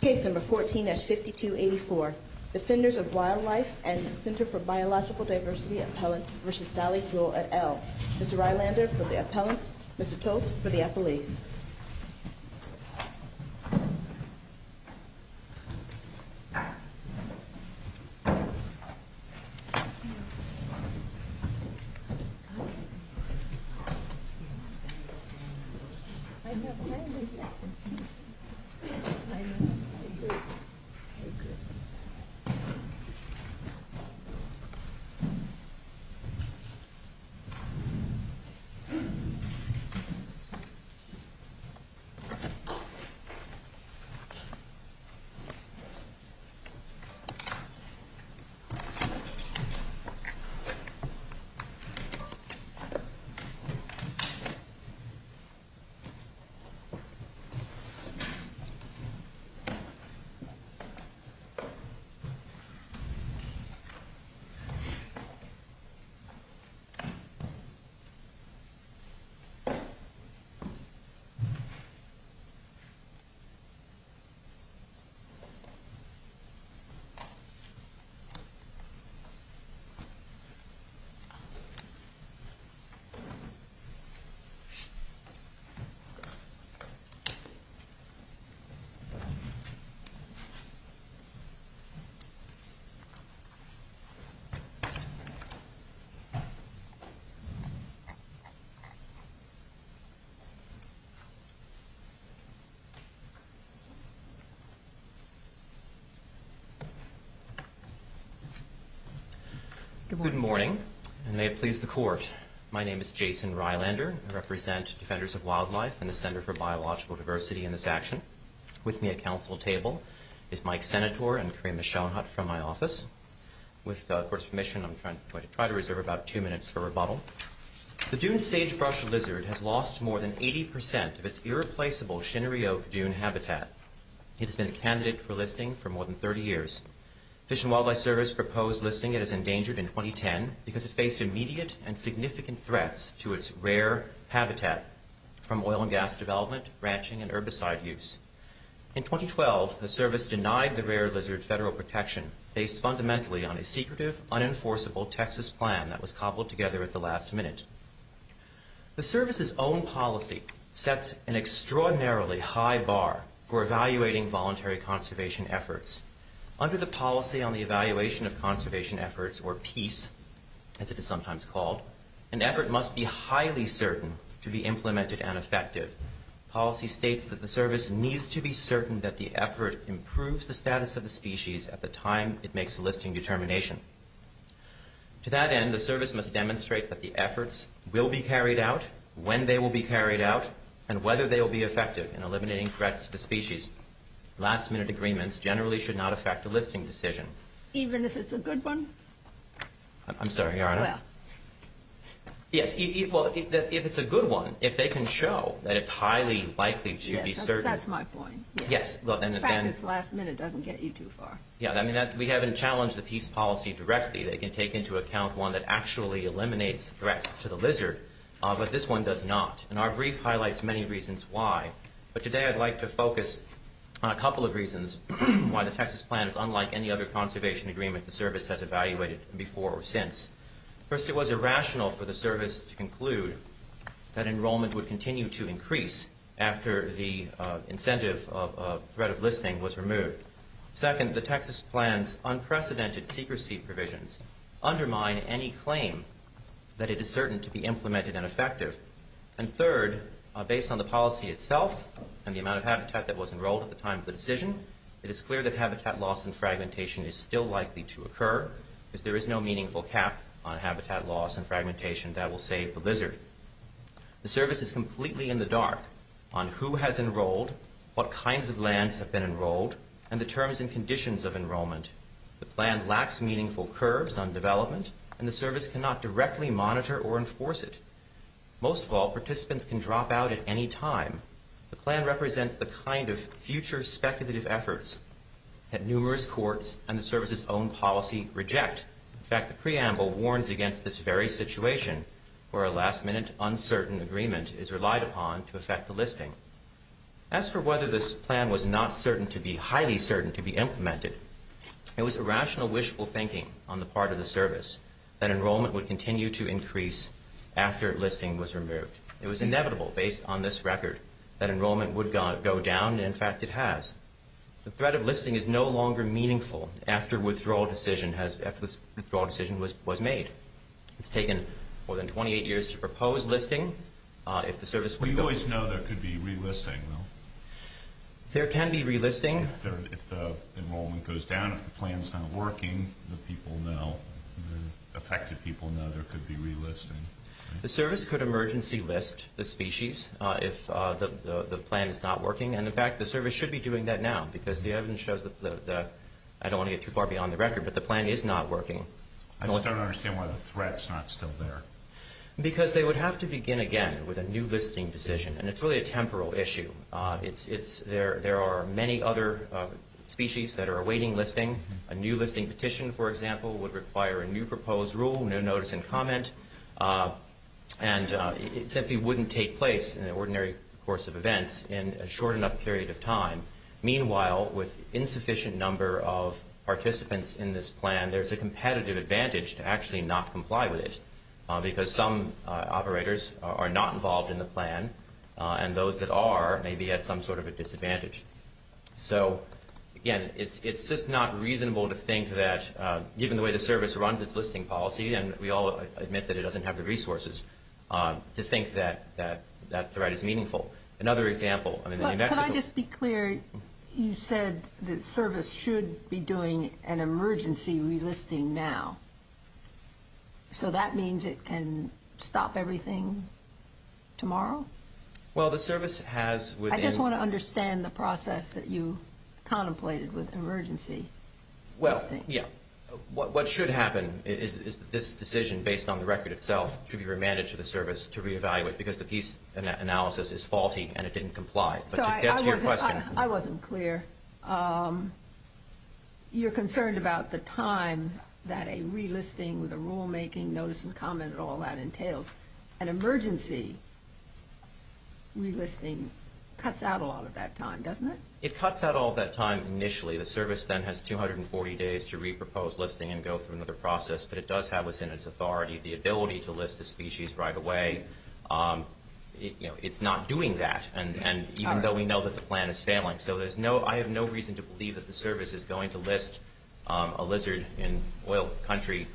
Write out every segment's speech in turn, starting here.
Case No. 14-5284, Defenders of Wildlife and Center for Biological Diversity Appellants v. Sally Jewell et al. Mr. Rylander for the appellants, Mr. Toth for the appellees. I'm a migrant. Migrant. Migrant. Good morning, and may it please the court. My name is Jason Rylander. I represent Defenders of Wildlife and the Center for Biological Diversity in this action. With me at council table is Mike Senatore and Karima Schoenhut from my office. With the court's permission, I'm going to try to reserve about two minutes for rebuttal. The dune sagebrush lizard has lost more than 80 percent of its irreplaceable Shinnery Oak dune habitat. It has been a candidate for listing for more than 30 years. Fish and Wildlife Service proposed listing it as endangered in 2010 because it faced immediate and significant threats to its rare habitat from oil and gas development, ranching, and herbicide use. In 2012, the service denied the rare lizard federal protection based fundamentally on a secretive, unenforceable Texas plan that was cobbled together at the last minute. The service's own policy sets an extraordinarily high bar for evaluating voluntary conservation efforts. Under the Policy on the Evaluation of Conservation Efforts, or PEACE, as it is sometimes called, an effort must be highly certain to be implemented and effective. Policy states that the service needs to be certain that the effort improves the status of the species at the time it makes the listing determination. To that end, the service must demonstrate that the efforts will be carried out, when they will be carried out, and whether they will be effective in eliminating threats to the species. These last-minute agreements generally should not affect the listing decision. Even if it's a good one? I'm sorry, Your Honor? Well... Yes, well, if it's a good one, if they can show that it's highly likely to be certain... Yes, that's my point. Yes, well, and then... The fact it's last minute doesn't get you too far. Yeah, I mean, we haven't challenged the PEACE policy directly. They can take into account one that actually eliminates threats to the lizard, but this one does not. And our brief highlights many reasons why. But today I'd like to focus on a couple of reasons why the Texas plan is unlike any other conservation agreement the service has evaluated before or since. First, it was irrational for the service to conclude that enrollment would continue to increase after the incentive of threat of listing was removed. Second, the Texas plan's unprecedented secrecy provisions undermine any claim that it is certain to be implemented and effective. And third, based on the policy itself and the amount of habitat that was enrolled at the time of the decision, it is clear that habitat loss and fragmentation is still likely to occur, because there is no meaningful cap on habitat loss and fragmentation that will save the lizard. The service is completely in the dark on who has enrolled, what kinds of lands have been enrolled, and the terms and conditions of enrollment. The plan lacks meaningful curves on development, and the service cannot directly monitor or Most of all, participants can drop out at any time. The plan represents the kind of future speculative efforts that numerous courts and the service's own policy reject. In fact, the preamble warns against this very situation where a last-minute uncertain agreement is relied upon to affect the listing. As for whether this plan was not certain to be highly certain to be implemented, it was irrational, wishful thinking on the part of the service that enrollment would continue to increase after listing was removed. It was inevitable, based on this record, that enrollment would go down, and in fact it has. The threat of listing is no longer meaningful after a withdrawal decision was made. It's taken more than 28 years to propose listing if the service would go down. We always know there could be relisting, though. There can be relisting. If the enrollment goes down, if the plan's not working, the people know, the affected people know there could be relisting. The service could emergency list the species if the plan is not working, and in fact the service should be doing that now because the evidence shows that the, I don't want to get too far beyond the record, but the plan is not working. I just don't understand why the threat's not still there. Because they would have to begin again with a new listing decision, and it's really a temporal issue. There are many other species that are awaiting listing. A new listing petition, for example, would require a new proposed rule, no notice and comment, and it simply wouldn't take place in the ordinary course of events in a short enough period of time. Meanwhile, with insufficient number of participants in this plan, there's a competitive advantage to actually not comply with it because some operators are not involved in the plan, and those that are may be at some sort of a disadvantage. So, again, it's just not reasonable to think that, given the way the service runs its listing policy, and we all admit that it doesn't have the resources, to think that that threat is meaningful. Another example, I mean, in New Mexico... But could I just be clear, you said the service should be doing an emergency relisting now. So that means it can stop everything tomorrow? Well, the service has within... I just want to understand the process that you contemplated with emergency listing. Well, yeah. What should happen is that this decision, based on the record itself, should be remanded to the service to re-evaluate because the piece analysis is faulty and it didn't comply. So I wasn't clear. You're concerned about the time that a relisting with a rulemaking, notice and comment, and all that entails. An emergency relisting cuts out a lot of that time, doesn't it? It cuts out all that time initially. The service then has 240 days to re-propose listing and go through another process, but it does have within its authority the ability to list the species right away. It's not doing that, even though we know that the plan is failing. So I have no reason to believe that the service is going to list a lizard in oil country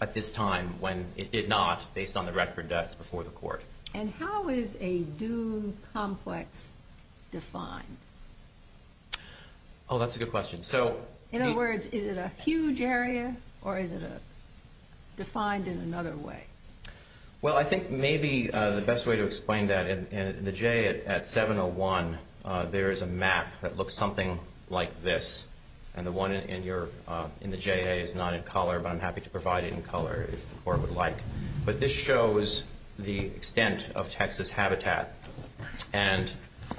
at this time when it did not, based on the record that's before the court. And how is a dune complex defined? Oh, that's a good question. So... In other words, is it a huge area or is it defined in another way? Well, I think maybe the best way to explain that, in the J at 701, there is a map that looks something like this. And the one in the J.A. is not in color, but I'm happy to provide it in color if the court would like. But this shows the extent of Texas habitat. And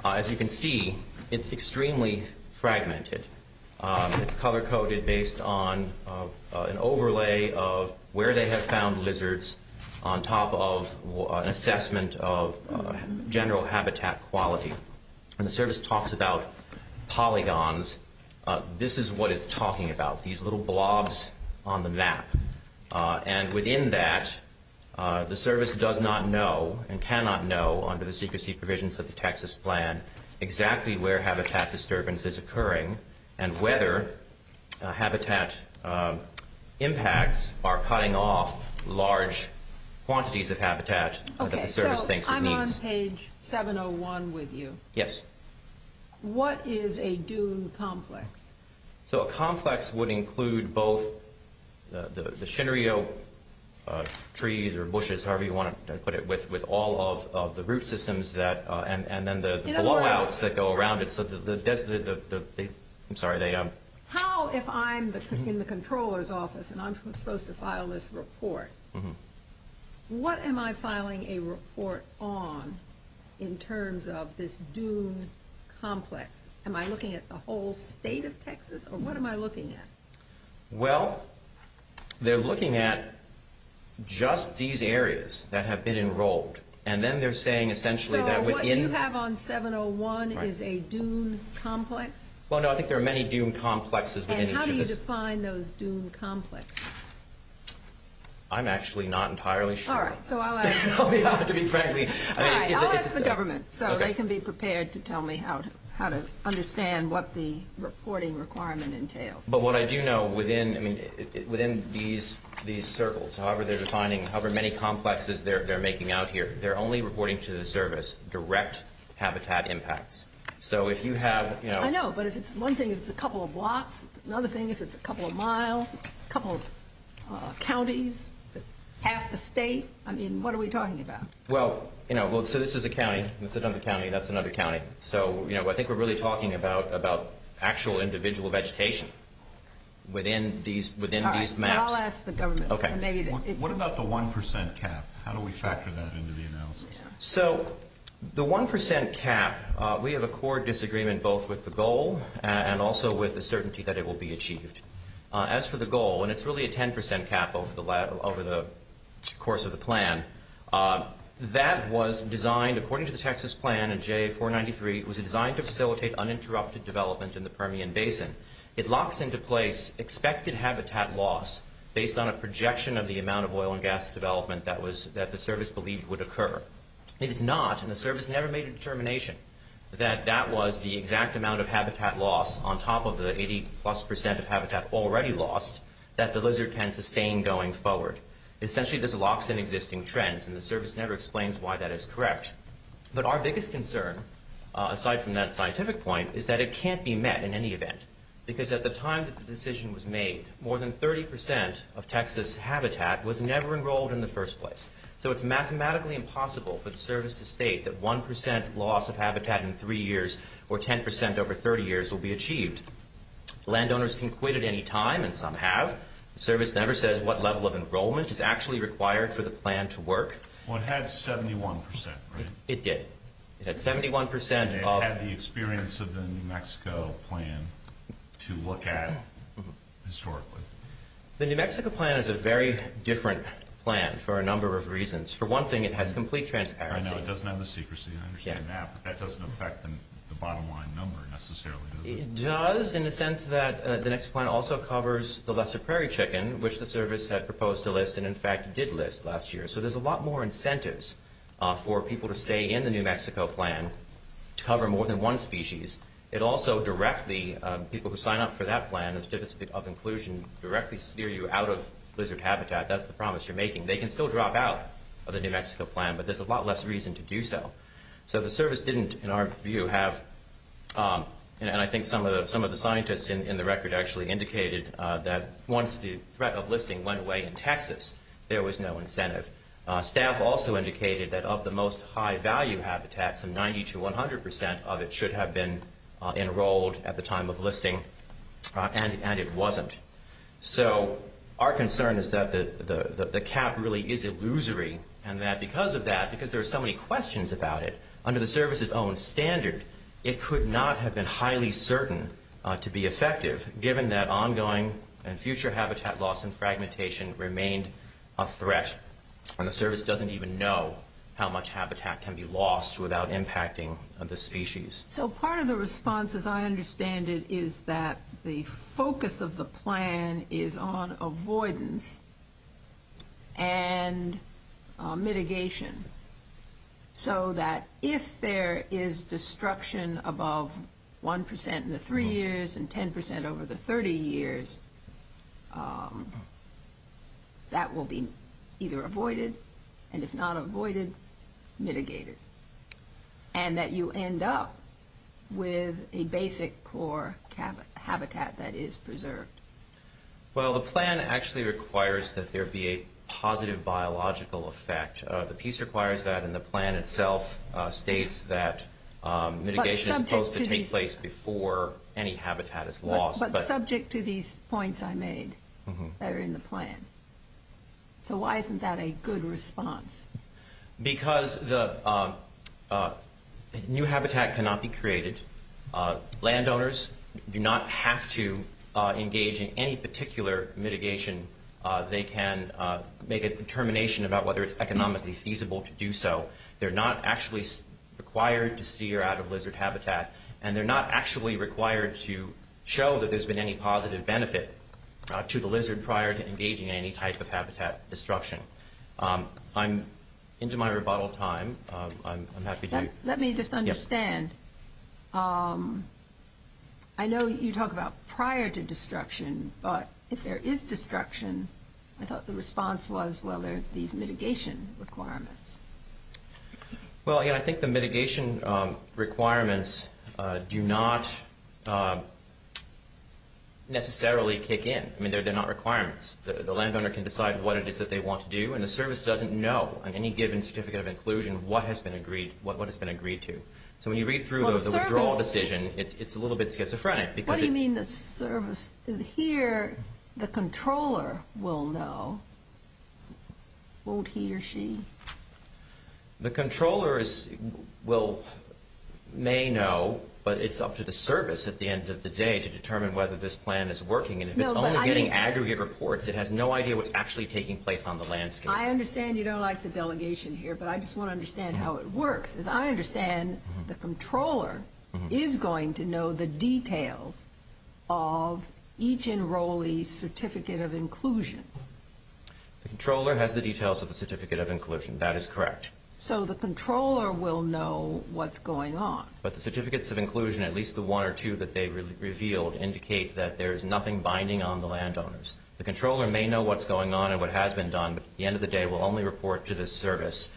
as you can see, it's extremely fragmented. It's color-coded based on an overlay of where they have found lizards on top of an assessment of general habitat quality. When the service talks about polygons, this is what it's talking about, these little blobs on the map. And within that, the service does not know and cannot know, under the secrecy provisions of the Texas plan, exactly where habitat disturbance is occurring and whether habitat impacts are cutting off large quantities of habitat that the service thinks it needs. I'm on page 701 with you. Yes. What is a dune complex? So a complex would include both the Shinnerio trees or bushes, however you want to put it, with all of the root systems and then the blowouts that go around it. In other words, how if I'm in the controller's office and I'm supposed to file this report, what am I filing a report on in terms of this dune complex? Am I looking at the whole state of Texas, or what am I looking at? Well, they're looking at just these areas that have been enrolled. And then they're saying, essentially, that within- So what you have on 701 is a dune complex? Well, no, I think there are many dune complexes within each of those- And how do you define those dune complexes? I'm actually not entirely sure. All right, so I'll ask the government so they can be prepared to tell me how to understand what the reporting requirement entails. But what I do know, within these circles, however many complexes they're making out here, they're only reporting to the service direct habitat impacts. So if you have- I know, but if it's one thing, it's a couple of blocks. Another thing, if it's a couple of miles, a couple of counties, half the state, I mean, what are we talking about? Well, so this is a county. That's another county. That's another county. So I think we're really talking about actual individual vegetation within these maps. All right, I'll ask the government. What about the 1% cap? How do we factor that into the analysis? So the 1% cap, we have a core disagreement both with the goal and also with the certainty that it will be achieved. As for the goal, and it's really a 10% cap over the course of the plan, that was designed according to the Texas plan in JA 493, it was designed to facilitate uninterrupted development in the Permian Basin. It locks into place expected habitat loss based on a projection of the amount of oil and gas development that the service believed would occur. It is not, and the service never made a determination that that was the exact amount of habitat loss on top of the 80-plus percent of habitat already lost that the lizard can sustain going forward. Essentially, this locks in existing trends, and the service never explains why that is correct. But our biggest concern, aside from that scientific point, is that it can't be met in any event because at the time that the decision was made, more than 30% of Texas habitat was never enrolled in the first place. So it's mathematically impossible for the service to state that 1% loss of habitat in 3 years or 10% over 30 years will be achieved. Landowners can quit at any time, and some have. The service never says what level of enrollment is actually required for the plan to work. Well, it had 71%, right? It did. It had 71% of... It had the experience of the New Mexico plan to look at historically. The New Mexico plan is a very different plan for a number of reasons. For one thing, it has complete transparency. I know. It doesn't have the secrecy. I understand that. But that doesn't affect the bottom line number necessarily, does it? It does in the sense that the next plan also covers the lesser prairie chicken, which the service had proposed to list and, in fact, did list last year. So there's a lot more incentives for people to stay in the New Mexico plan to cover more than one species. It also directly... People who sign up for that plan of inclusion directly steer you out of blizzard habitat. That's the promise you're making. They can still drop out of the New Mexico plan, but there's a lot less reason to do so. So the service didn't, in our view, have... And I think some of the scientists in the record actually indicated that once the threat of listing went away in Texas, there was no incentive. Staff also indicated that of the most high-value habitats, some 90% to 100% of it should have been enrolled at the time of listing, and it wasn't. So our concern is that the cap really is illusory and that because of that, because there are so many questions about it, under the service's own standard, it could not have been highly certain to be effective, given that ongoing and future habitat loss and fragmentation remained a threat. And the service doesn't even know how much habitat can be lost without impacting the species. So part of the response, as I understand it, is that the focus of the plan is on avoidance and mitigation, so that if there is destruction above 1% in the 3 years and 10% over the 30 years, that will be either avoided, and if not avoided, mitigated, and that you end up with a basic core habitat that is preserved. Well, the plan actually requires that there be a positive biological effect. The piece requires that, and the plan itself states that mitigation is supposed to take place before any habitat is lost. But subject to these points I made that are in the plan. So why isn't that a good response? Because new habitat cannot be created. Landowners do not have to engage in any particular mitigation. They can make a determination about whether it's economically feasible to do so. They're not actually required to steer out of lizard habitat, and they're not actually required to show that there's been any positive benefit to the lizard prior to engaging in any type of habitat destruction. I'm into my rebuttal time. Let me just understand. I know you talk about prior to destruction, but if there is destruction, I thought the response was, well, there are these mitigation requirements. Well, again, I think the mitigation requirements do not necessarily kick in. I mean, they're not requirements. The landowner can decide what it is that they want to do, and the service doesn't know on any given certificate of inclusion what has been agreed to. So when you read through the withdrawal decision, it's a little bit schizophrenic. What do you mean the service? Here, the controller will know. Won't he or she? The controller may know, but it's up to the service at the end of the day to determine whether this plan is working. And if it's only getting aggregate reports, it has no idea what's actually taking place on the landscape. I understand you don't like the delegation here, but I just want to understand how it works. As I understand, the controller is going to know the details of each enrollee's certificate of inclusion. The controller has the details of the certificate of inclusion. That is correct. So the controller will know what's going on. But the certificates of inclusion, at least the one or two that they revealed, indicate that there is nothing binding on the landowners. The controller may know what's going on and what has been done, but at the end of the day will only report to the service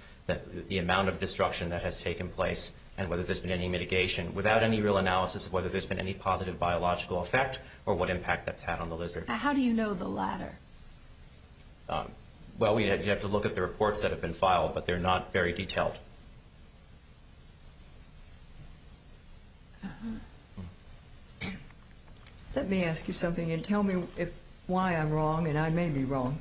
the amount of destruction that has taken place and whether there's been any mitigation without any real analysis of whether there's been any positive biological effect or what impact that's had on the lizard. How do you know the latter? Well, we have to look at the reports that have been filed, but they're not very detailed. Let me ask you something and tell me why I'm wrong, and I may be wrong.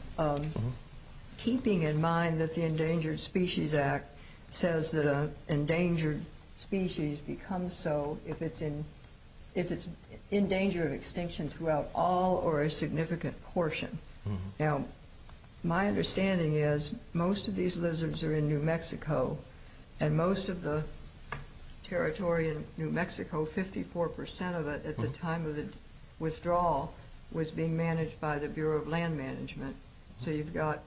Keeping in mind that the Endangered Species Act says that an endangered species becomes so if it's in danger of extinction throughout all or a significant portion. Now, my understanding is most of these lizards are in New Mexico, and most of the territory in New Mexico, 54% of it at the time of the withdrawal, was being managed by the Bureau of Land Management. So you've got,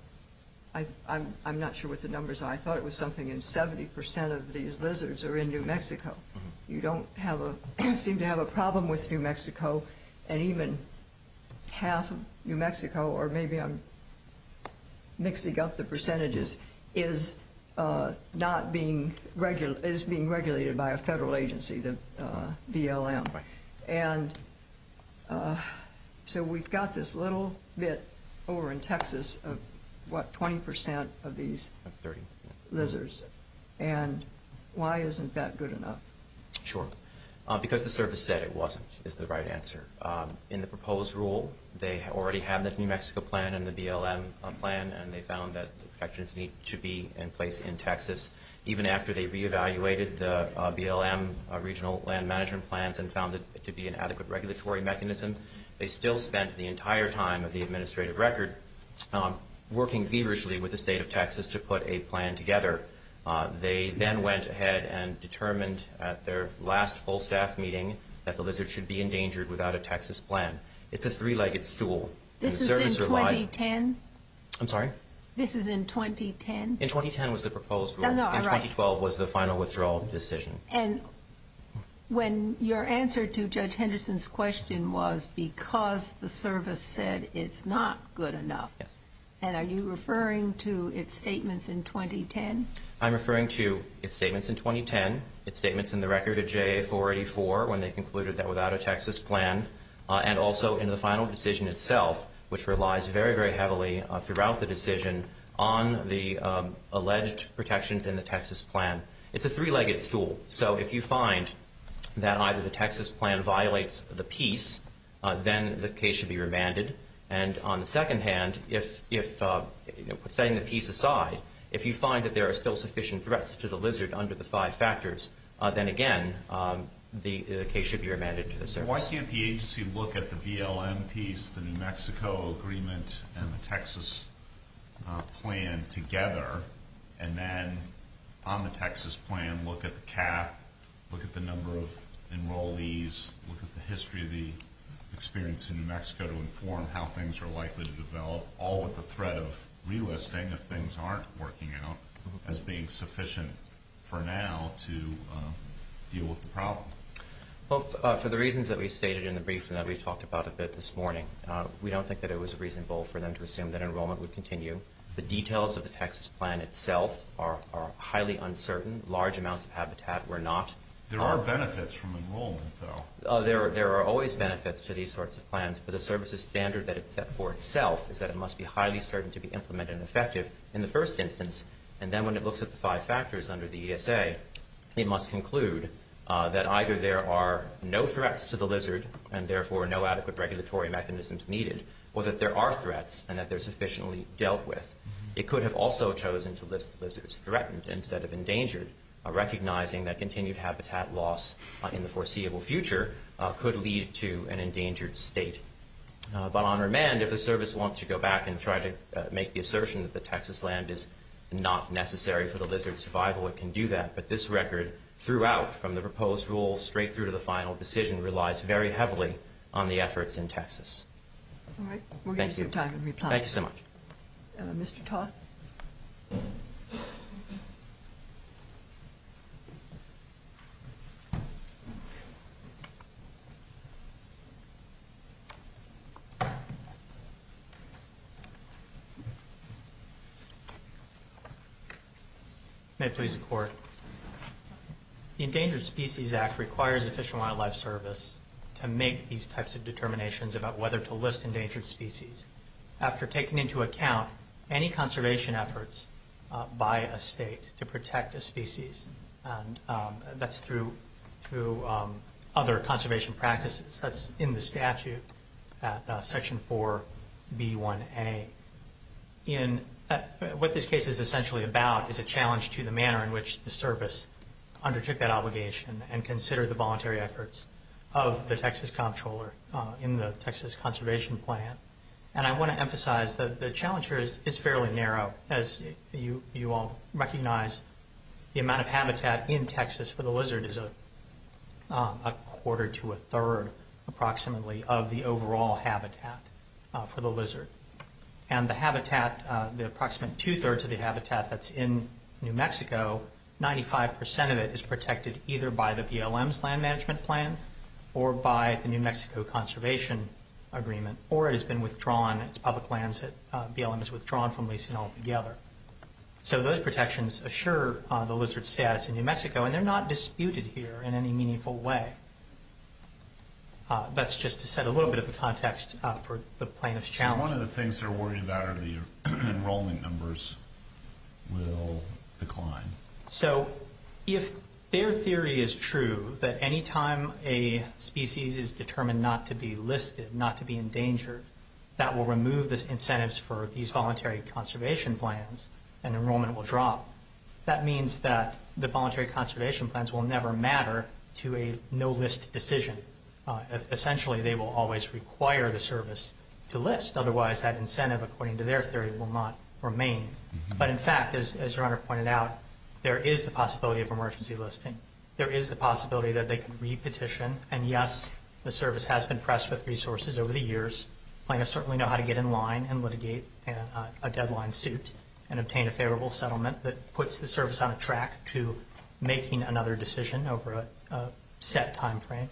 I'm not sure what the numbers are. I thought it was something in 70% of these lizards are in New Mexico. You don't seem to have a problem with New Mexico, and even half of New Mexico, or maybe I'm mixing up the percentages, is being regulated by a federal agency, the BLM. And so we've got this little bit over in Texas of, what, 20% of these lizards. And why isn't that good enough? Sure. Because the service said it wasn't, is the right answer. In the proposed rule, they already have the New Mexico plan and the BLM plan, and they found that the protections need to be in place in Texas. Even after they re-evaluated the BLM regional land management plans and found it to be an adequate regulatory mechanism, they still spent the entire time of the administrative record working feverishly with the state of Texas to put a plan together. They then went ahead and determined at their last full staff meeting that the lizard should be endangered without a Texas plan. It's a three-legged stool. This is in 2010? I'm sorry? This is in 2010? In 2010 was the proposed rule. In 2012 was the final withdrawal decision. And when your answer to Judge Henderson's question was because the service said it's not good enough, and are you referring to its statements in 2010? I'm referring to its statements in 2010, its statements in the record of JA 484 when they concluded that without a Texas plan, and also in the final decision itself, which relies very, very heavily throughout the decision on the alleged protections in the Texas plan. It's a three-legged stool. So if you find that either the Texas plan violates the peace, then the case should be remanded. And on the second hand, setting the peace aside, if you find that there are still sufficient threats to the lizard under the five factors, then again the case should be remanded to the service. Why can't the agency look at the BLM peace, the New Mexico agreement, and the Texas plan together, and then on the Texas plan look at the cap, look at the number of enrollees, look at the history of the experience in New Mexico to inform how things are likely to develop, all with the threat of relisting if things aren't working out as being sufficient for now to deal with the problem? Well, for the reasons that we stated in the briefing that we talked about a bit this morning, we don't think that it was reasonable for them to assume that enrollment would continue. The details of the Texas plan itself are highly uncertain. Large amounts of habitat were not. There are benefits from enrollment, though. There are always benefits to these sorts of plans, but the services standard that it set for itself is that it must be highly certain to be implemented and effective in the first instance. And then when it looks at the five factors under the ESA, it must conclude that either there are no threats to the lizard and therefore no adequate regulatory mechanisms needed, or that there are threats and that they're sufficiently dealt with. It could have also chosen to list the lizards threatened instead of endangered, recognizing that continued habitat loss in the foreseeable future could lead to an endangered state. But on remand, if the service wants to go back and try to make the assertion that the Texas land is not necessary for the lizard's survival, it can do that. But this record throughout, from the proposed rule straight through to the final decision, relies very heavily on the efforts in Texas. All right. Thank you. We'll give you some time in reply. Thank you so much. Mr. Todd. May it please the Court. The Endangered Species Act requires the Fish and Wildlife Service to make these types of determinations about whether to list endangered species. After taking into account any conservation efforts by a state to protect a species, and that's through other conservation practices, that's in the statute at Section 4B1A. What this case is essentially about is a challenge to the manner in which the service undertook that obligation and considered the voluntary efforts of the Texas comptroller in the Texas Conservation Plan. And I want to emphasize that the challenge here is fairly narrow, as you all recognize the amount of habitat in Texas for the lizard is a quarter to a third, approximately, of the overall habitat for the lizard. And the habitat, the approximate two-thirds of the habitat that's in New Mexico, 95% of it is protected either by the BLM's Land Management Plan or by the New Mexico Conservation Agreement, or it has been withdrawn, its public lands that BLM has withdrawn from leasing altogether. So those protections assure the lizard's status in New Mexico, and they're not disputed here in any meaningful way. That's just to set a little bit of a context for the plaintiff's challenge. So one of the things they're worried about are the enrollment numbers will decline. So if their theory is true, that any time a species is determined not to be listed, not to be endangered, that will remove the incentives for these voluntary conservation plans, and enrollment will drop. That means that the voluntary conservation plans will never matter to a no-list decision. Essentially, they will always require the service to list. Otherwise, that incentive, according to their theory, will not remain. But in fact, as your Honor pointed out, there is the possibility of emergency listing. There is the possibility that they could re-petition, and yes, the service has been pressed with resources over the years. Plaintiffs certainly know how to get in line and litigate a deadline suit and obtain a favorable settlement that puts the service on a track to making another decision over a set time frame.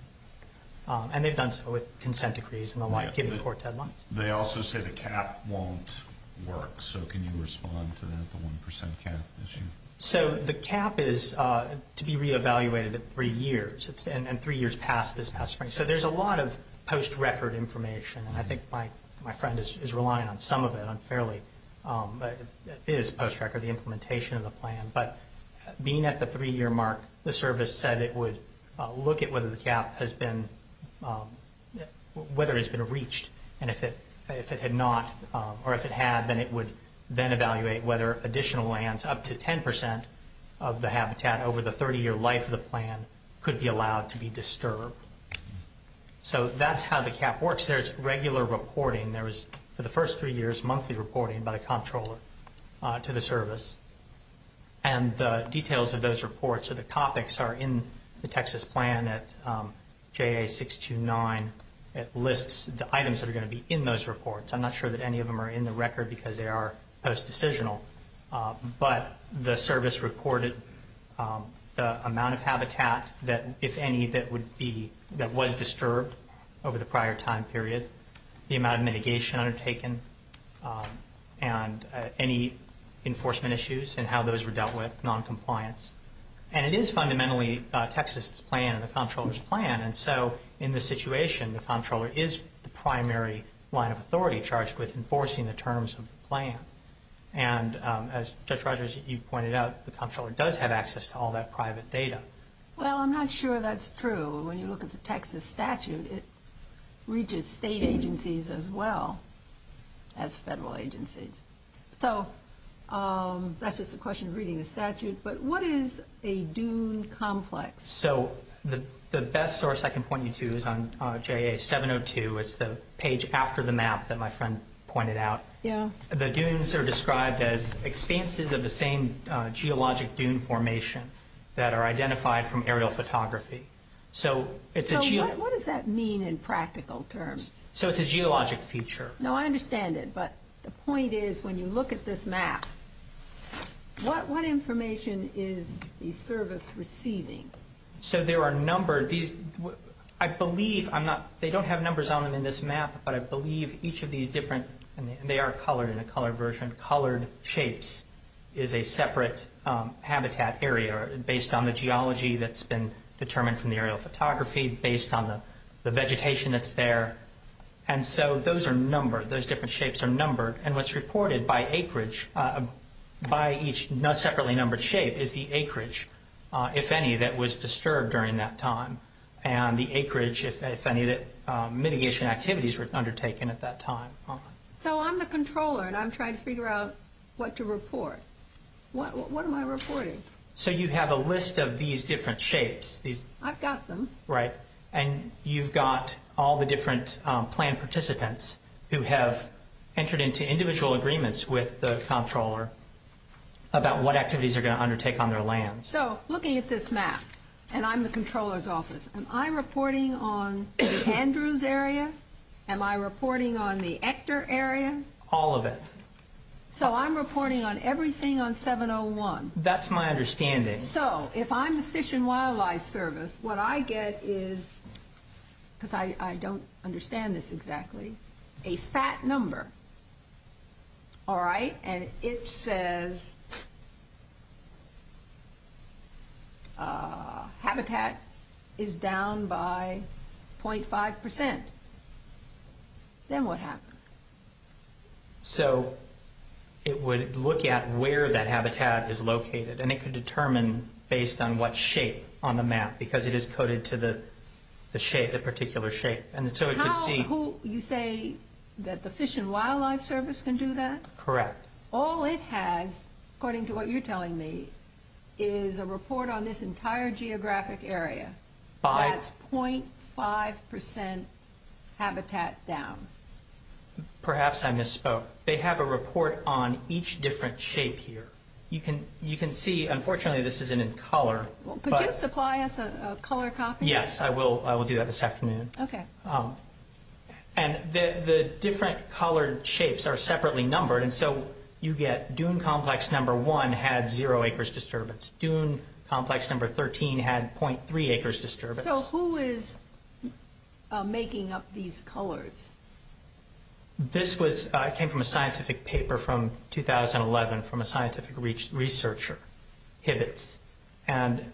And they've done so with consent decrees and the like, giving court deadlines. They also say the cap won't work. So can you respond to that, the 1 percent cap issue? So the cap is to be re-evaluated at three years, and three years past this past spring. So there's a lot of post-record information, and I think my friend is relying on some of it unfairly. It is post-record, the implementation of the plan. But being at the three-year mark, the service said it would look at whether the cap has been reached. And if it had not, or if it had, then it would then evaluate whether additional lands, up to 10 percent of the habitat over the 30-year life of the plan, could be allowed to be disturbed. So that's how the cap works. There's regular reporting. There is, for the first three years, monthly reporting by the comptroller to the service. And the details of those reports or the topics are in the Texas plan at JA629. It lists the items that are going to be in those reports. I'm not sure that any of them are in the record because they are post-decisional. But the service reported the amount of habitat that, if any, that would be, that was disturbed over the prior time period, the amount of mitigation undertaken, and any enforcement issues and how those were dealt with, noncompliance. And it is fundamentally Texas' plan and the comptroller's plan. And so in this situation, the comptroller is the primary line of authority charged with enforcing the terms of the plan. And as Judge Rogers, you pointed out, the comptroller does have access to all that private data. Well, I'm not sure that's true. When you look at the Texas statute, it reaches state agencies as well as federal agencies. So that's just a question of reading the statute. But what is a DUNE complex? So the best source I can point you to is on JA702. It's the page after the map that my friend pointed out. The DUNEs are described as expanses of the same geologic DUNE formation that are identified from aerial photography. So what does that mean in practical terms? So it's a geologic feature. No, I understand it. But the point is when you look at this map, what information is the service receiving? So there are a number of these. I believe they don't have numbers on them in this map, but I believe each of these different, and they are colored in a colored version, colored shapes is a separate habitat area based on the geology that's been determined from the aerial photography, based on the vegetation that's there. And so those are numbered. Those different shapes are numbered. And what's reported by acreage, by each separately numbered shape, is the acreage, if any, that was disturbed during that time, and the acreage, if any, that mitigation activities were undertaken at that time. So I'm the controller, and I'm trying to figure out what to report. What am I reporting? So you have a list of these different shapes. I've got them. Right. And you've got all the different plan participants who have entered into individual agreements with the controller about what activities are going to undertake on their lands. So looking at this map, and I'm the controller's office, am I reporting on the Andrews area? Am I reporting on the Hector area? All of it. So I'm reporting on everything on 701? That's my understanding. So if I'm the Fish and Wildlife Service, what I get is, because I don't understand this exactly, a fat number. All right? And it says habitat is down by 0.5%. Then what happens? So it would look at where that habitat is located, and it could determine based on what shape on the map, because it is coded to the particular shape. So you say that the Fish and Wildlife Service can do that? Correct. All it has, according to what you're telling me, is a report on this entire geographic area. That's 0.5% habitat down. Perhaps I misspoke. They have a report on each different shape here. You can see, unfortunately, this isn't in color. Could you supply us a color copy? Yes, I will do that this afternoon. Okay. And the different colored shapes are separately numbered, and so you get dune complex number 1 had 0 acres disturbance. Dune complex number 13 had 0.3 acres disturbance. So who is making up these colors? This came from a scientific paper from 2011 from a scientific researcher, Hibitz. And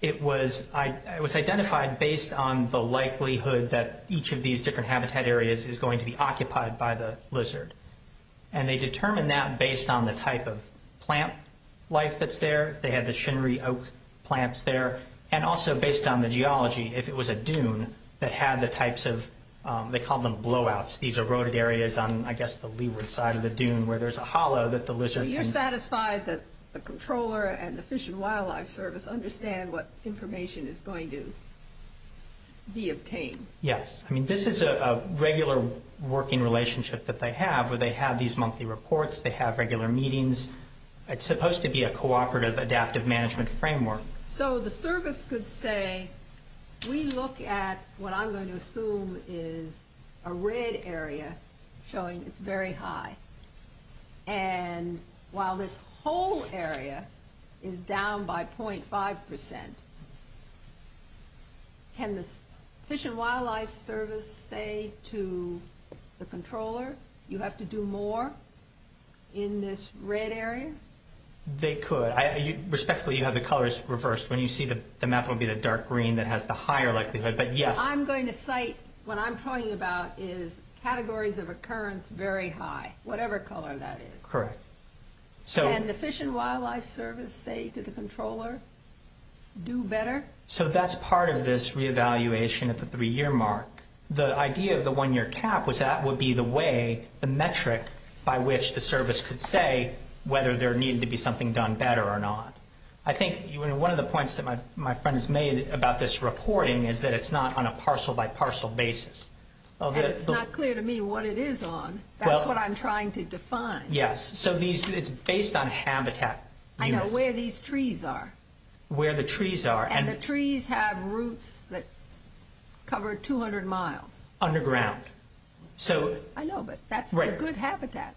it was identified based on the likelihood that each of these different habitat areas is going to be occupied by the lizard. And they determined that based on the type of plant life that's there. They had the shinery oak plants there, and also based on the geology, if it was a dune that had the types of—they called them blowouts. These eroded areas on, I guess, the leeward side of the dune where there's a hollow that the lizard can— So you're satisfied that the controller and the Fish and Wildlife Service understand what information is going to be obtained? Yes. I mean, this is a regular working relationship that they have where they have these monthly reports. They have regular meetings. It's supposed to be a cooperative adaptive management framework. So the service could say, we look at what I'm going to assume is a red area showing it's very high. And while this whole area is down by 0.5 percent, can the Fish and Wildlife Service say to the controller, you have to do more in this red area? They could. Respectfully, you have the colors reversed. When you see the map, it will be the dark green that has the higher likelihood, but yes. What I'm going to cite, what I'm talking about is categories of occurrence very high, whatever color that is. Correct. Can the Fish and Wildlife Service say to the controller, do better? So that's part of this reevaluation at the three-year mark. The idea of the one-year cap was that would be the way, the metric by which the service could say whether there needed to be something done better or not. One of the points that my friend has made about this reporting is that it's not on a parcel-by-parcel basis. It's not clear to me what it is on. That's what I'm trying to define. Yes. It's based on habitat. I know where these trees are. Where the trees are. And the trees have roots that cover 200 miles. Underground. I know, but that's a good habitat.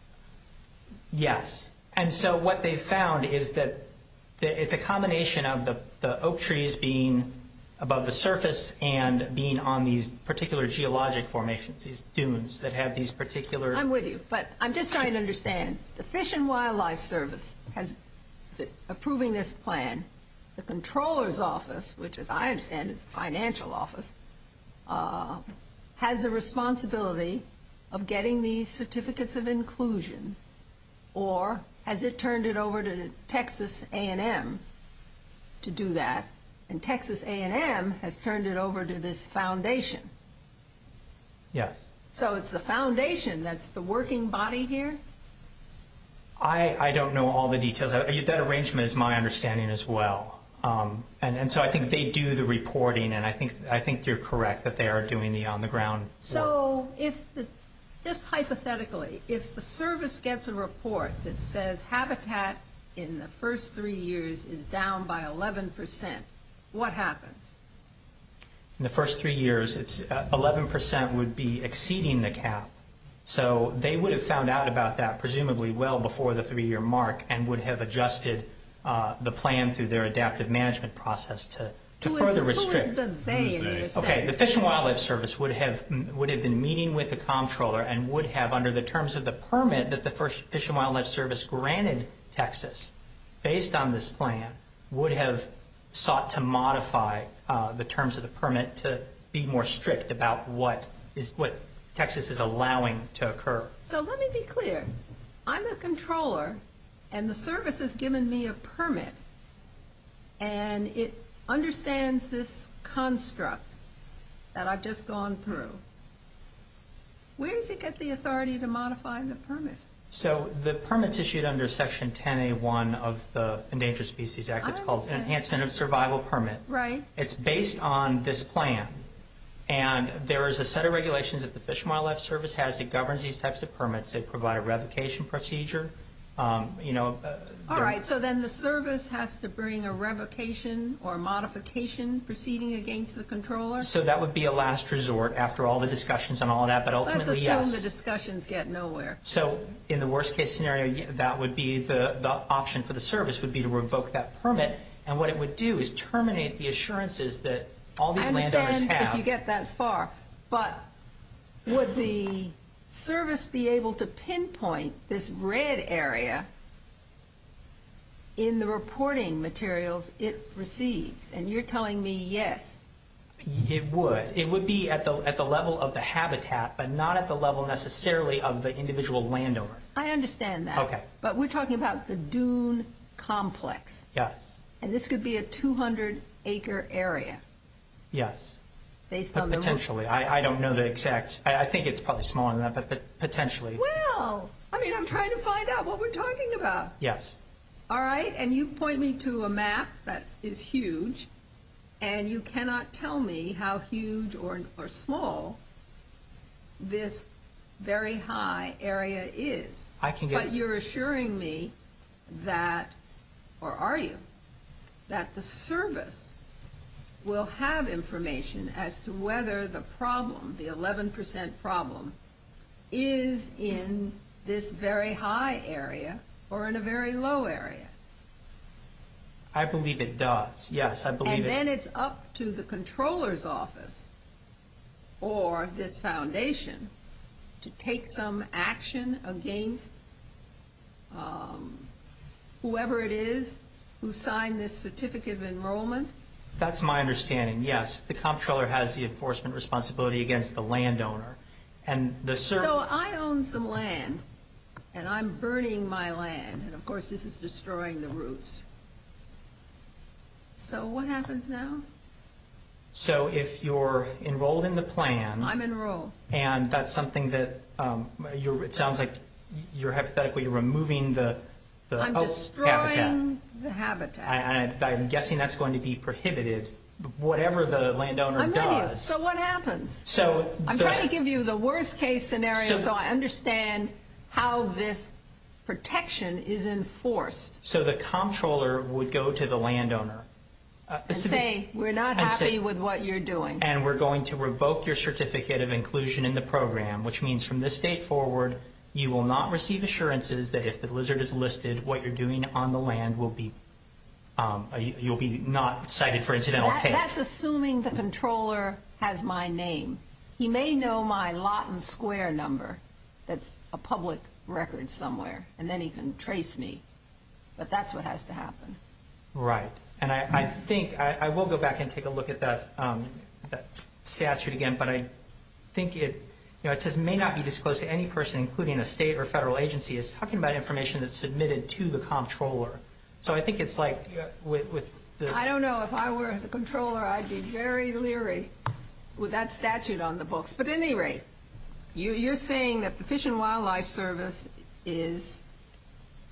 Yes. And so what they've found is that it's a combination of the oak trees being above the surface and being on these particular geologic formations, these dunes that have these particular I'm with you, but I'm just trying to understand. The Fish and Wildlife Service has, approving this plan, the controller's office, which as I understand is the financial office, has a responsibility of getting these certificates of inclusion or has it turned it over to Texas A&M to do that? And Texas A&M has turned it over to this foundation. Yes. So it's the foundation that's the working body here? I don't know all the details. That arrangement is my understanding as well. And so I think they do the reporting, and I think you're correct that they are doing the on-the-ground work. So just hypothetically, if the service gets a report that says habitat in the first three years is down by 11%, what happens? In the first three years, 11% would be exceeding the cap. So they would have found out about that presumably well before the three-year mark and would have adjusted the plan through their adaptive management process to further restrict. Who is the they in your sense? Okay, the Fish and Wildlife Service would have been meeting with the controller and would have under the terms of the permit that the Fish and Wildlife Service granted Texas based on this plan would have sought to modify the terms of the permit to be more strict about what Texas is allowing to occur. So let me be clear. I'm a controller, and the service has given me a permit, and it understands this construct that I've just gone through. Where does it get the authority to modify the permit? So the permit's issued under Section 10A1 of the Endangered Species Act. It's called the Enhancement of Survival Permit. Right. It's based on this plan, and there is a set of regulations that the Fish and Wildlife Service has that governs these types of permits that provide a revocation procedure. All right, so then the service has to bring a revocation or a modification proceeding against the controller? So that would be a last resort after all the discussions on all that, but ultimately, yes. Let's assume the discussions get nowhere. So in the worst-case scenario, the option for the service would be to revoke that permit, and what it would do is terminate the assurances that all these landowners have. If you get that far. But would the service be able to pinpoint this red area in the reporting materials it receives? And you're telling me yes. It would. It would be at the level of the habitat, but not at the level necessarily of the individual landowner. I understand that. Okay. But we're talking about the dune complex. Yes. And this could be a 200-acre area. Yes. But potentially. I don't know the exact. I think it's probably smaller than that, but potentially. Well, I mean, I'm trying to find out what we're talking about. Yes. All right, and you point me to a map that is huge, and you cannot tell me how huge or small this very high area is. I can get it. But you're assuring me that, or are you, that the service will have information as to whether the problem, the 11 percent problem, is in this very high area or in a very low area. I believe it does. Yes, I believe it. Then it's up to the comptroller's office or this foundation to take some action against whoever it is who signed this certificate of enrollment. That's my understanding, yes. The comptroller has the enforcement responsibility against the landowner. So I own some land, and I'm burning my land, and, of course, this is destroying the roots. So what happens now? So if you're enrolled in the plan. I'm enrolled. And that's something that sounds like you're hypothetically removing the habitat. I'm destroying the habitat. I'm guessing that's going to be prohibited, whatever the landowner does. I'm with you. So what happens? I'm trying to give you the worst-case scenario so I understand how this protection is enforced. So the comptroller would go to the landowner. And say, we're not happy with what you're doing. And we're going to revoke your certificate of inclusion in the program, which means from this date forward you will not receive assurances that if the lizard is listed, what you're doing on the land will be, you'll be not cited for incidental take. That's assuming the comptroller has my name. He may know my Lawton Square number that's a public record somewhere, and then he can trace me. But that's what has to happen. Right. And I think, I will go back and take a look at that statute again, but I think it, you know, it says may not be disclosed to any person, including a state or federal agency. It's talking about information that's submitted to the comptroller. So I think it's like with the... But at any rate, you're saying that the Fish and Wildlife Service is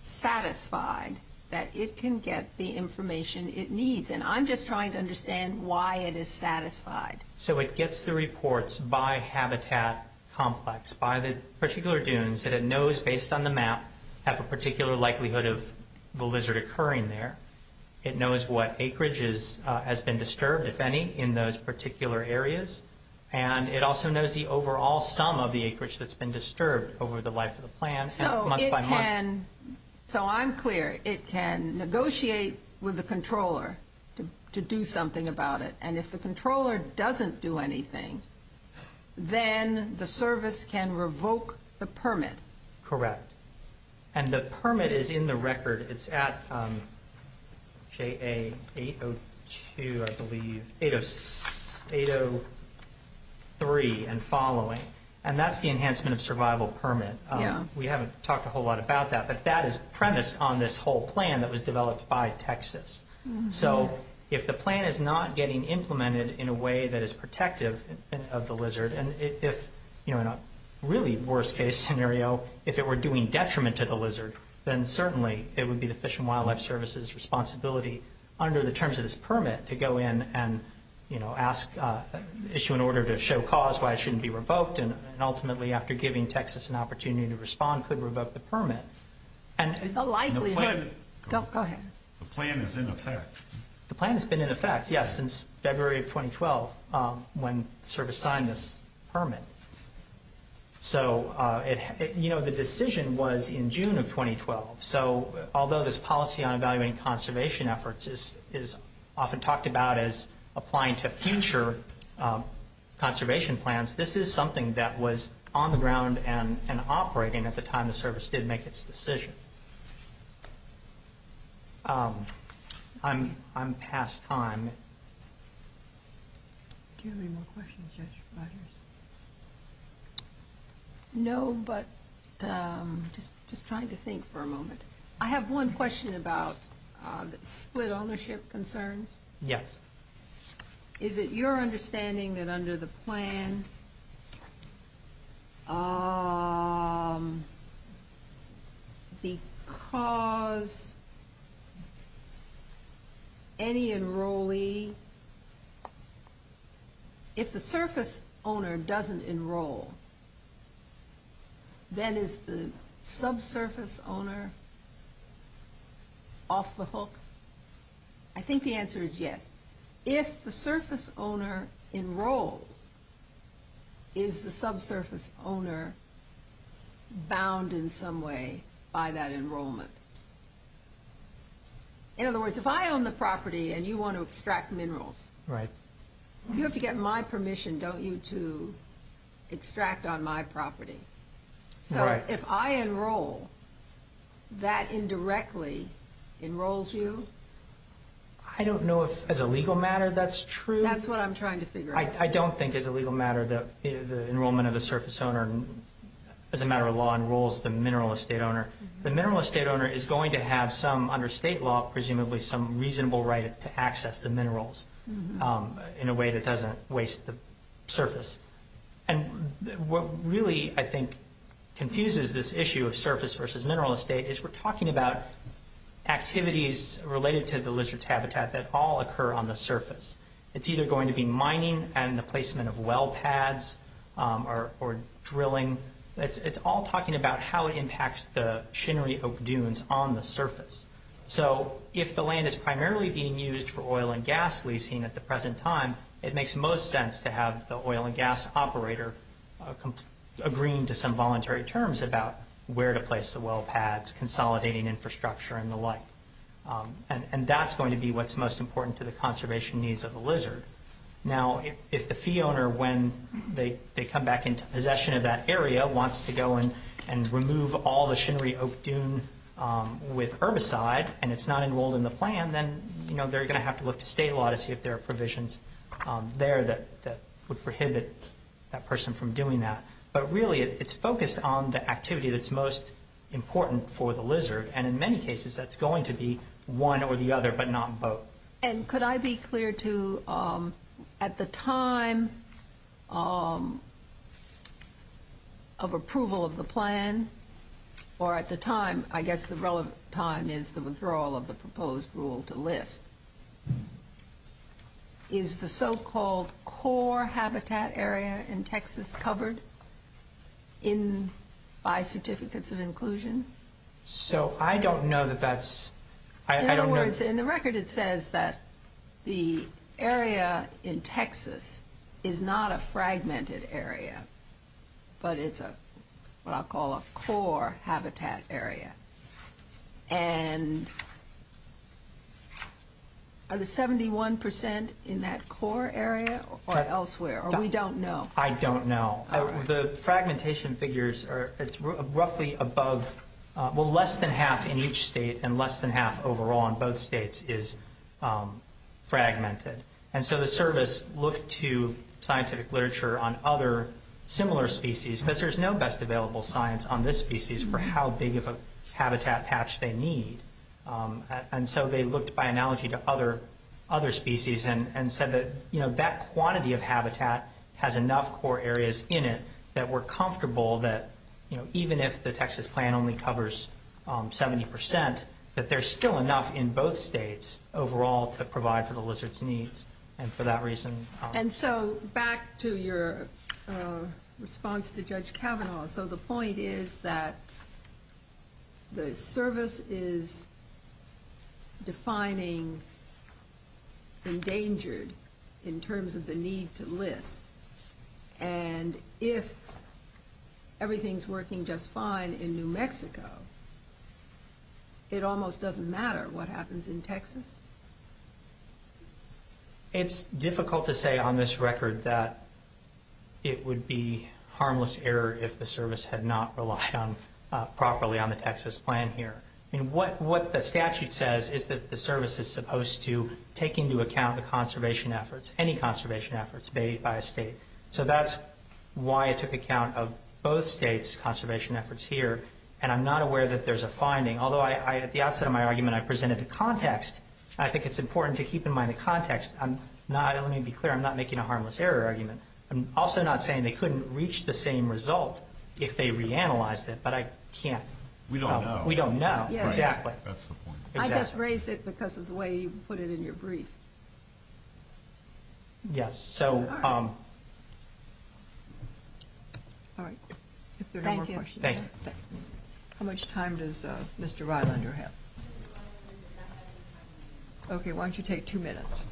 satisfied that it can get the information it needs. And I'm just trying to understand why it is satisfied. So it gets the reports by habitat complex, by the particular dunes that it knows based on the map, have a particular likelihood of the lizard occurring there. It knows what acreage has been disturbed, if any, in those particular areas. And it also knows the overall sum of the acreage that's been disturbed over the life of the plan, month by month. So it can... So I'm clear. It can negotiate with the controller to do something about it. And if the controller doesn't do anything, then the service can revoke the permit. Correct. And the permit is in the record. It's at JA802, I believe... 803 and following. And that's the Enhancement of Survival Permit. Yeah. We haven't talked a whole lot about that, but that is premised on this whole plan that was developed by Texas. So if the plan is not getting implemented in a way that is protective of the lizard, and if, in a really worst-case scenario, if it were doing detriment to the lizard, then certainly it would be the Fish and Wildlife Service's responsibility under the terms of this permit to go in and issue an order to show cause why it shouldn't be revoked, and ultimately, after giving Texas an opportunity to respond, could revoke the permit. The likelihood... Go ahead. The plan is in effect. The plan has been in effect, yes, since February of 2012, when the service signed this permit. So, you know, the decision was in June of 2012. So although this policy on evaluating conservation efforts is often talked about as applying to future conservation plans, this is something that was on the ground and operating at the time the service did make its decision. I'm past time. Do you have any more questions, Judge Rogers? No, but just trying to think for a moment. I have one question about split ownership concerns. Yes. Is it your understanding that under the plan, because any enrollee, if the surface owner doesn't enroll, then is the subsurface owner off the hook? I think the answer is yes. If the surface owner enrolls, is the subsurface owner bound in some way by that enrollment? In other words, if I own the property and you want to extract minerals... Right. You have to get my permission, don't you, to extract on my property. Right. So if I enroll, that indirectly enrolls you? I don't know if as a legal matter that's true. That's what I'm trying to figure out. I don't think as a legal matter that the enrollment of the surface owner, as a matter of law, enrolls the mineral estate owner. The mineral estate owner is going to have some, under state law presumably, some reasonable right to access the minerals in a way that doesn't waste the surface. What really, I think, confuses this issue of surface versus mineral estate is we're talking about activities related to the lizard's habitat that all occur on the surface. It's either going to be mining and the placement of well pads or drilling. It's all talking about how it impacts the shinery oak dunes on the surface. So if the land is primarily being used for oil and gas leasing at the present time, it makes most sense to have the oil and gas operator agreeing to some voluntary terms about where to place the well pads, consolidating infrastructure, and the like. And that's going to be what's most important to the conservation needs of the lizard. Now, if the fee owner, when they come back into possession of that area, wants to go and remove all the shinery oak dune with herbicide and it's not enrolled in the plan, then they're going to have to look to state law to see if there are provisions there that would prohibit that person from doing that. But really it's focused on the activity that's most important for the lizard, and in many cases that's going to be one or the other but not both. And could I be clear too, at the time of approval of the plan, or at the time, I guess the relevant time is the withdrawal of the proposed rule to list, is the so-called core habitat area in Texas covered by certificates of inclusion? So I don't know that that's... In other words, in the record it says that the area in Texas is not a fragmented area, but it's what I'll call a core habitat area. And are the 71 percent in that core area or elsewhere, or we don't know? I don't know. The fragmentation figures are roughly above, well, less than half in each state and less than half overall in both states is fragmented. And so the service looked to scientific literature on other similar species, but there's no best available science on this species for how big of a habitat patch they need. And so they looked by analogy to other species and said that that quantity of habitat has enough core areas in it that we're comfortable that even if the Texas plan only covers 70 percent, that there's still enough in both states overall to provide for the lizard's needs. And for that reason... And so back to your response to Judge Kavanaugh. So the point is that the service is defining endangered in terms of the need to list. And if everything's working just fine in New Mexico, it almost doesn't matter what happens in Texas. It's difficult to say on this record that it would be harmless error if the service had not relied properly on the Texas plan here. What the statute says is that the service is supposed to take into account the conservation efforts, any conservation efforts made by a state. So that's why it took account of both states' conservation efforts here. And I'm not aware that there's a finding, although at the outset of my argument I presented the context. I think it's important to keep in mind the context. Let me be clear, I'm not making a harmless error argument. I'm also not saying they couldn't reach the same result if they reanalyzed it, but I can't. We don't know. We don't know, exactly. That's the point. I just raised it because of the way you put it in your brief. Yes. All right. If there are no more questions. Thank you. How much time does Mr. Rylander have? Okay, why don't you take two minutes.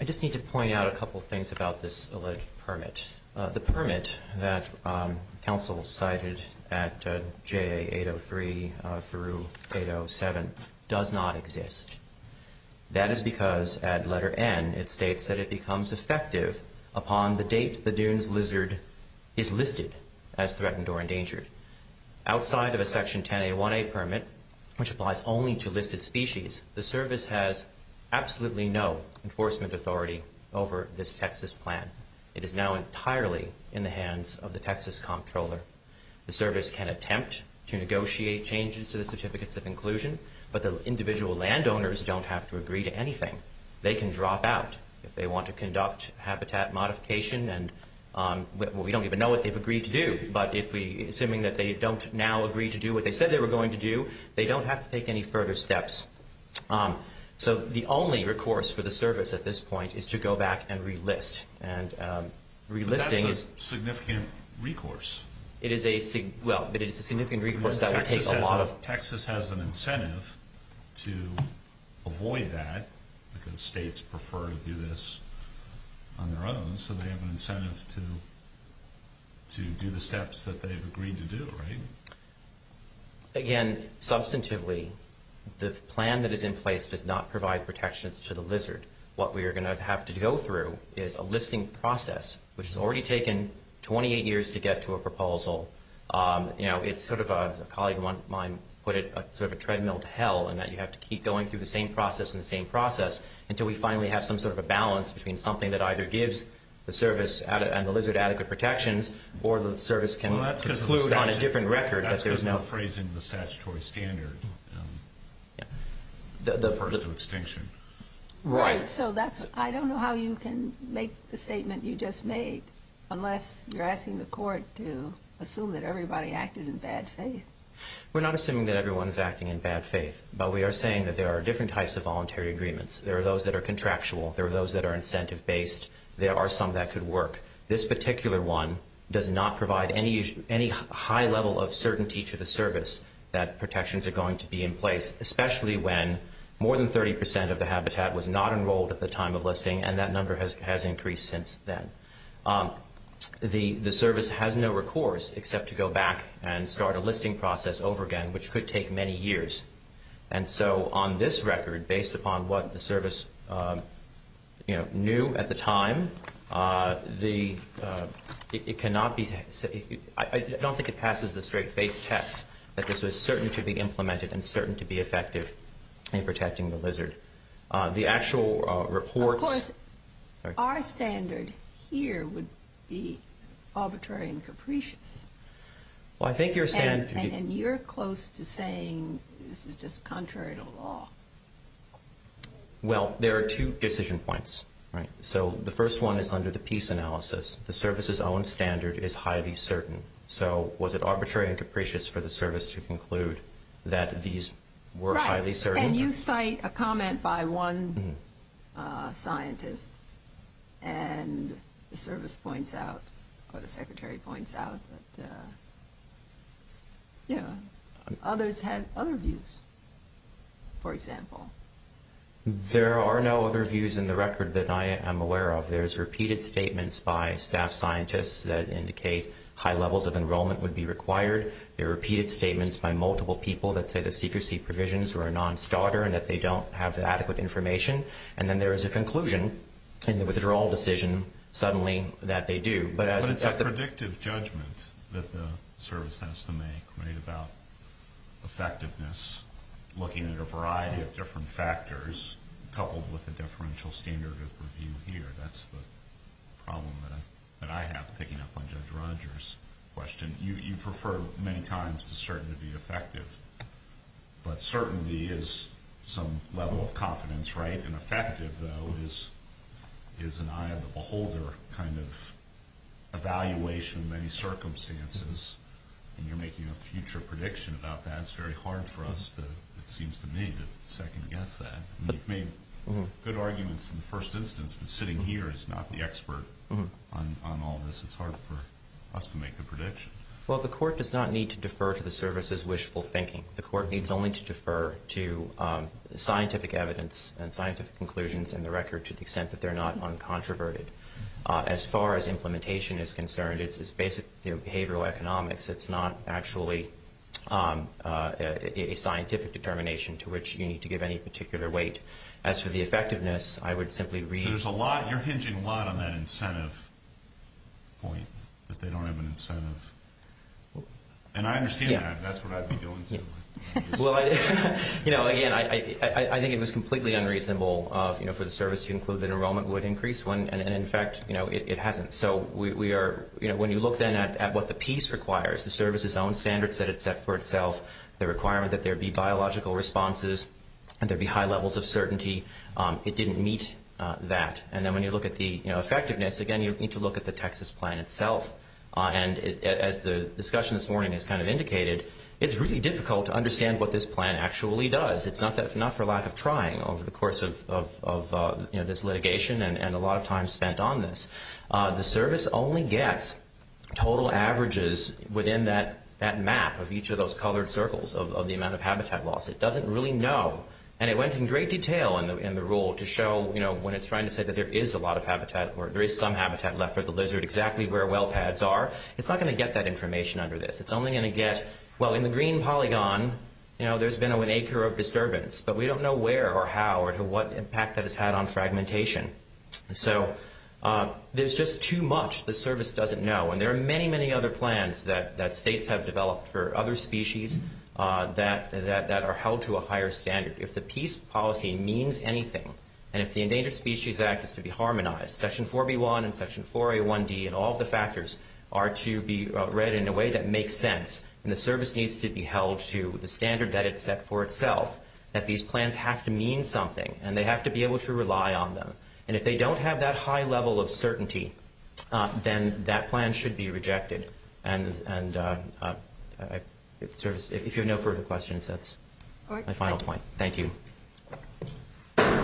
I just need to point out a couple of things about this alleged permit. The permit that counsel cited at JA803 through 807 does not exist. That is because at letter N it states that it becomes effective upon the date the dune's lizard is listed as threatened or endangered. Outside of a section 10A1A permit, which applies only to listed species, the service has absolutely no enforcement authority over this Texas plan. It is now entirely in the hands of the Texas comptroller. The service can attempt to negotiate changes to the Certificates of Inclusion, but the individual landowners don't have to agree to anything. They can drop out if they want to conduct habitat modification. We don't even know what they've agreed to do, but assuming that they don't now agree to do what they said they were going to do, they don't have to take any further steps. So the only recourse for the service at this point is to go back and relist. But that's a significant recourse. It is a significant recourse. Texas has an incentive to avoid that because states prefer to do this on their own, so they have an incentive to do the steps that they've agreed to do, right? Again, substantively, the plan that is in place does not provide protections to the lizard. What we are going to have to go through is a listing process, which has already taken 28 years to get to a proposal. You know, it's sort of, a colleague of mine put it, sort of a treadmill to hell in that you have to keep going through the same process and the same process until we finally have some sort of a balance between something that either gives the service and the lizard adequate protections or the service can conclude on a different record because there's no phrase in the statutory standard. The first of extinction. Right. So that's, I don't know how you can make the statement you just made unless you're asking the court to assume that everybody acted in bad faith. We're not assuming that everyone is acting in bad faith, but we are saying that there are different types of voluntary agreements. There are those that are contractual. There are those that are incentive-based. There are some that could work. This particular one does not provide any high level of certainty to the service that protections are going to be in place, especially when more than 30% of the habitat was not enrolled at the time of listing, and that number has increased since then. The service has no recourse except to go back and start a listing process over again, which could take many years. And so on this record, based upon what the service, you know, knew at the time, it cannot be said, I don't think it passes the straight-faced test that this was certain to be implemented and certain to be effective in protecting the lizard. The actual reports. Of course, our standard here would be arbitrary and capricious. And you're close to saying this is just contrary to law. Well, there are two decision points. So the first one is under the peace analysis. The service's own standard is highly certain. So was it arbitrary and capricious for the service to conclude that these were highly certain? Right. And you cite a comment by one scientist, and the service points out, or the secretary points out that, you know, others had other views, for example. There are no other views in the record that I am aware of. There's repeated statements by staff scientists that indicate high levels of enrollment would be required. There are repeated statements by multiple people that say the secrecy provisions were a non-starter and that they don't have adequate information. And then there is a conclusion in the withdrawal decision suddenly that they do. But it's a predictive judgment that the service has to make, right, about effectiveness, looking at a variety of different factors coupled with a differential standard of review here. That's the problem that I have picking up on Judge Rogers' question. You've referred many times to certain to be effective. But certainty is some level of confidence, right? And effective, though, is an eye of the beholder kind of evaluation of many circumstances. And you're making a future prediction about that. It's very hard for us, it seems to me, to second-guess that. You've made good arguments in the first instance, but sitting here is not the expert on all this. It's hard for us to make a prediction. Well, the court does not need to defer to the service's wishful thinking. The court needs only to defer to scientific evidence and scientific conclusions in the record to the extent that they're not uncontroverted. As far as implementation is concerned, it's basic behavioral economics. It's not actually a scientific determination to which you need to give any particular weight. As for the effectiveness, I would simply read. You're hinging a lot on that incentive point, that they don't have an incentive. And I understand that. That's what I'd be doing too. Again, I think it was completely unreasonable for the service to include that enrollment would increase when, in fact, it hasn't. So when you look then at what the piece requires, the service's own standards that it set for itself, the requirement that there be biological responses and there be high levels of certainty, it didn't meet that. And then when you look at the effectiveness, again, you need to look at the Texas plan itself. And as the discussion this morning has kind of indicated, it's really difficult to understand what this plan actually does. It's not for lack of trying over the course of this litigation and a lot of time spent on this. The service only gets total averages within that map of each of those colored circles of the amount of habitat loss. It doesn't really know. And it went in great detail in the rule to show, you know, when it's trying to say that there is a lot of habitat or there is some habitat left for the lizard exactly where well pads are. It's not going to get that information under this. It's only going to get, well, in the green polygon, you know, there's been an acre of disturbance. But we don't know where or how or what impact that has had on fragmentation. So there's just too much the service doesn't know. And there are many, many other plans that states have developed for other species that are held to a higher standard. If the peace policy means anything and if the Endangered Species Act is to be harmonized, Section 4B1 and Section 4A1D and all of the factors are to be read in a way that makes sense and the service needs to be held to the standard that it's set for itself, that these plans have to mean something and they have to be able to rely on them. And if they don't have that high level of certainty, then that plan should be rejected. And if you have no further questions, that's my final point. Thank you.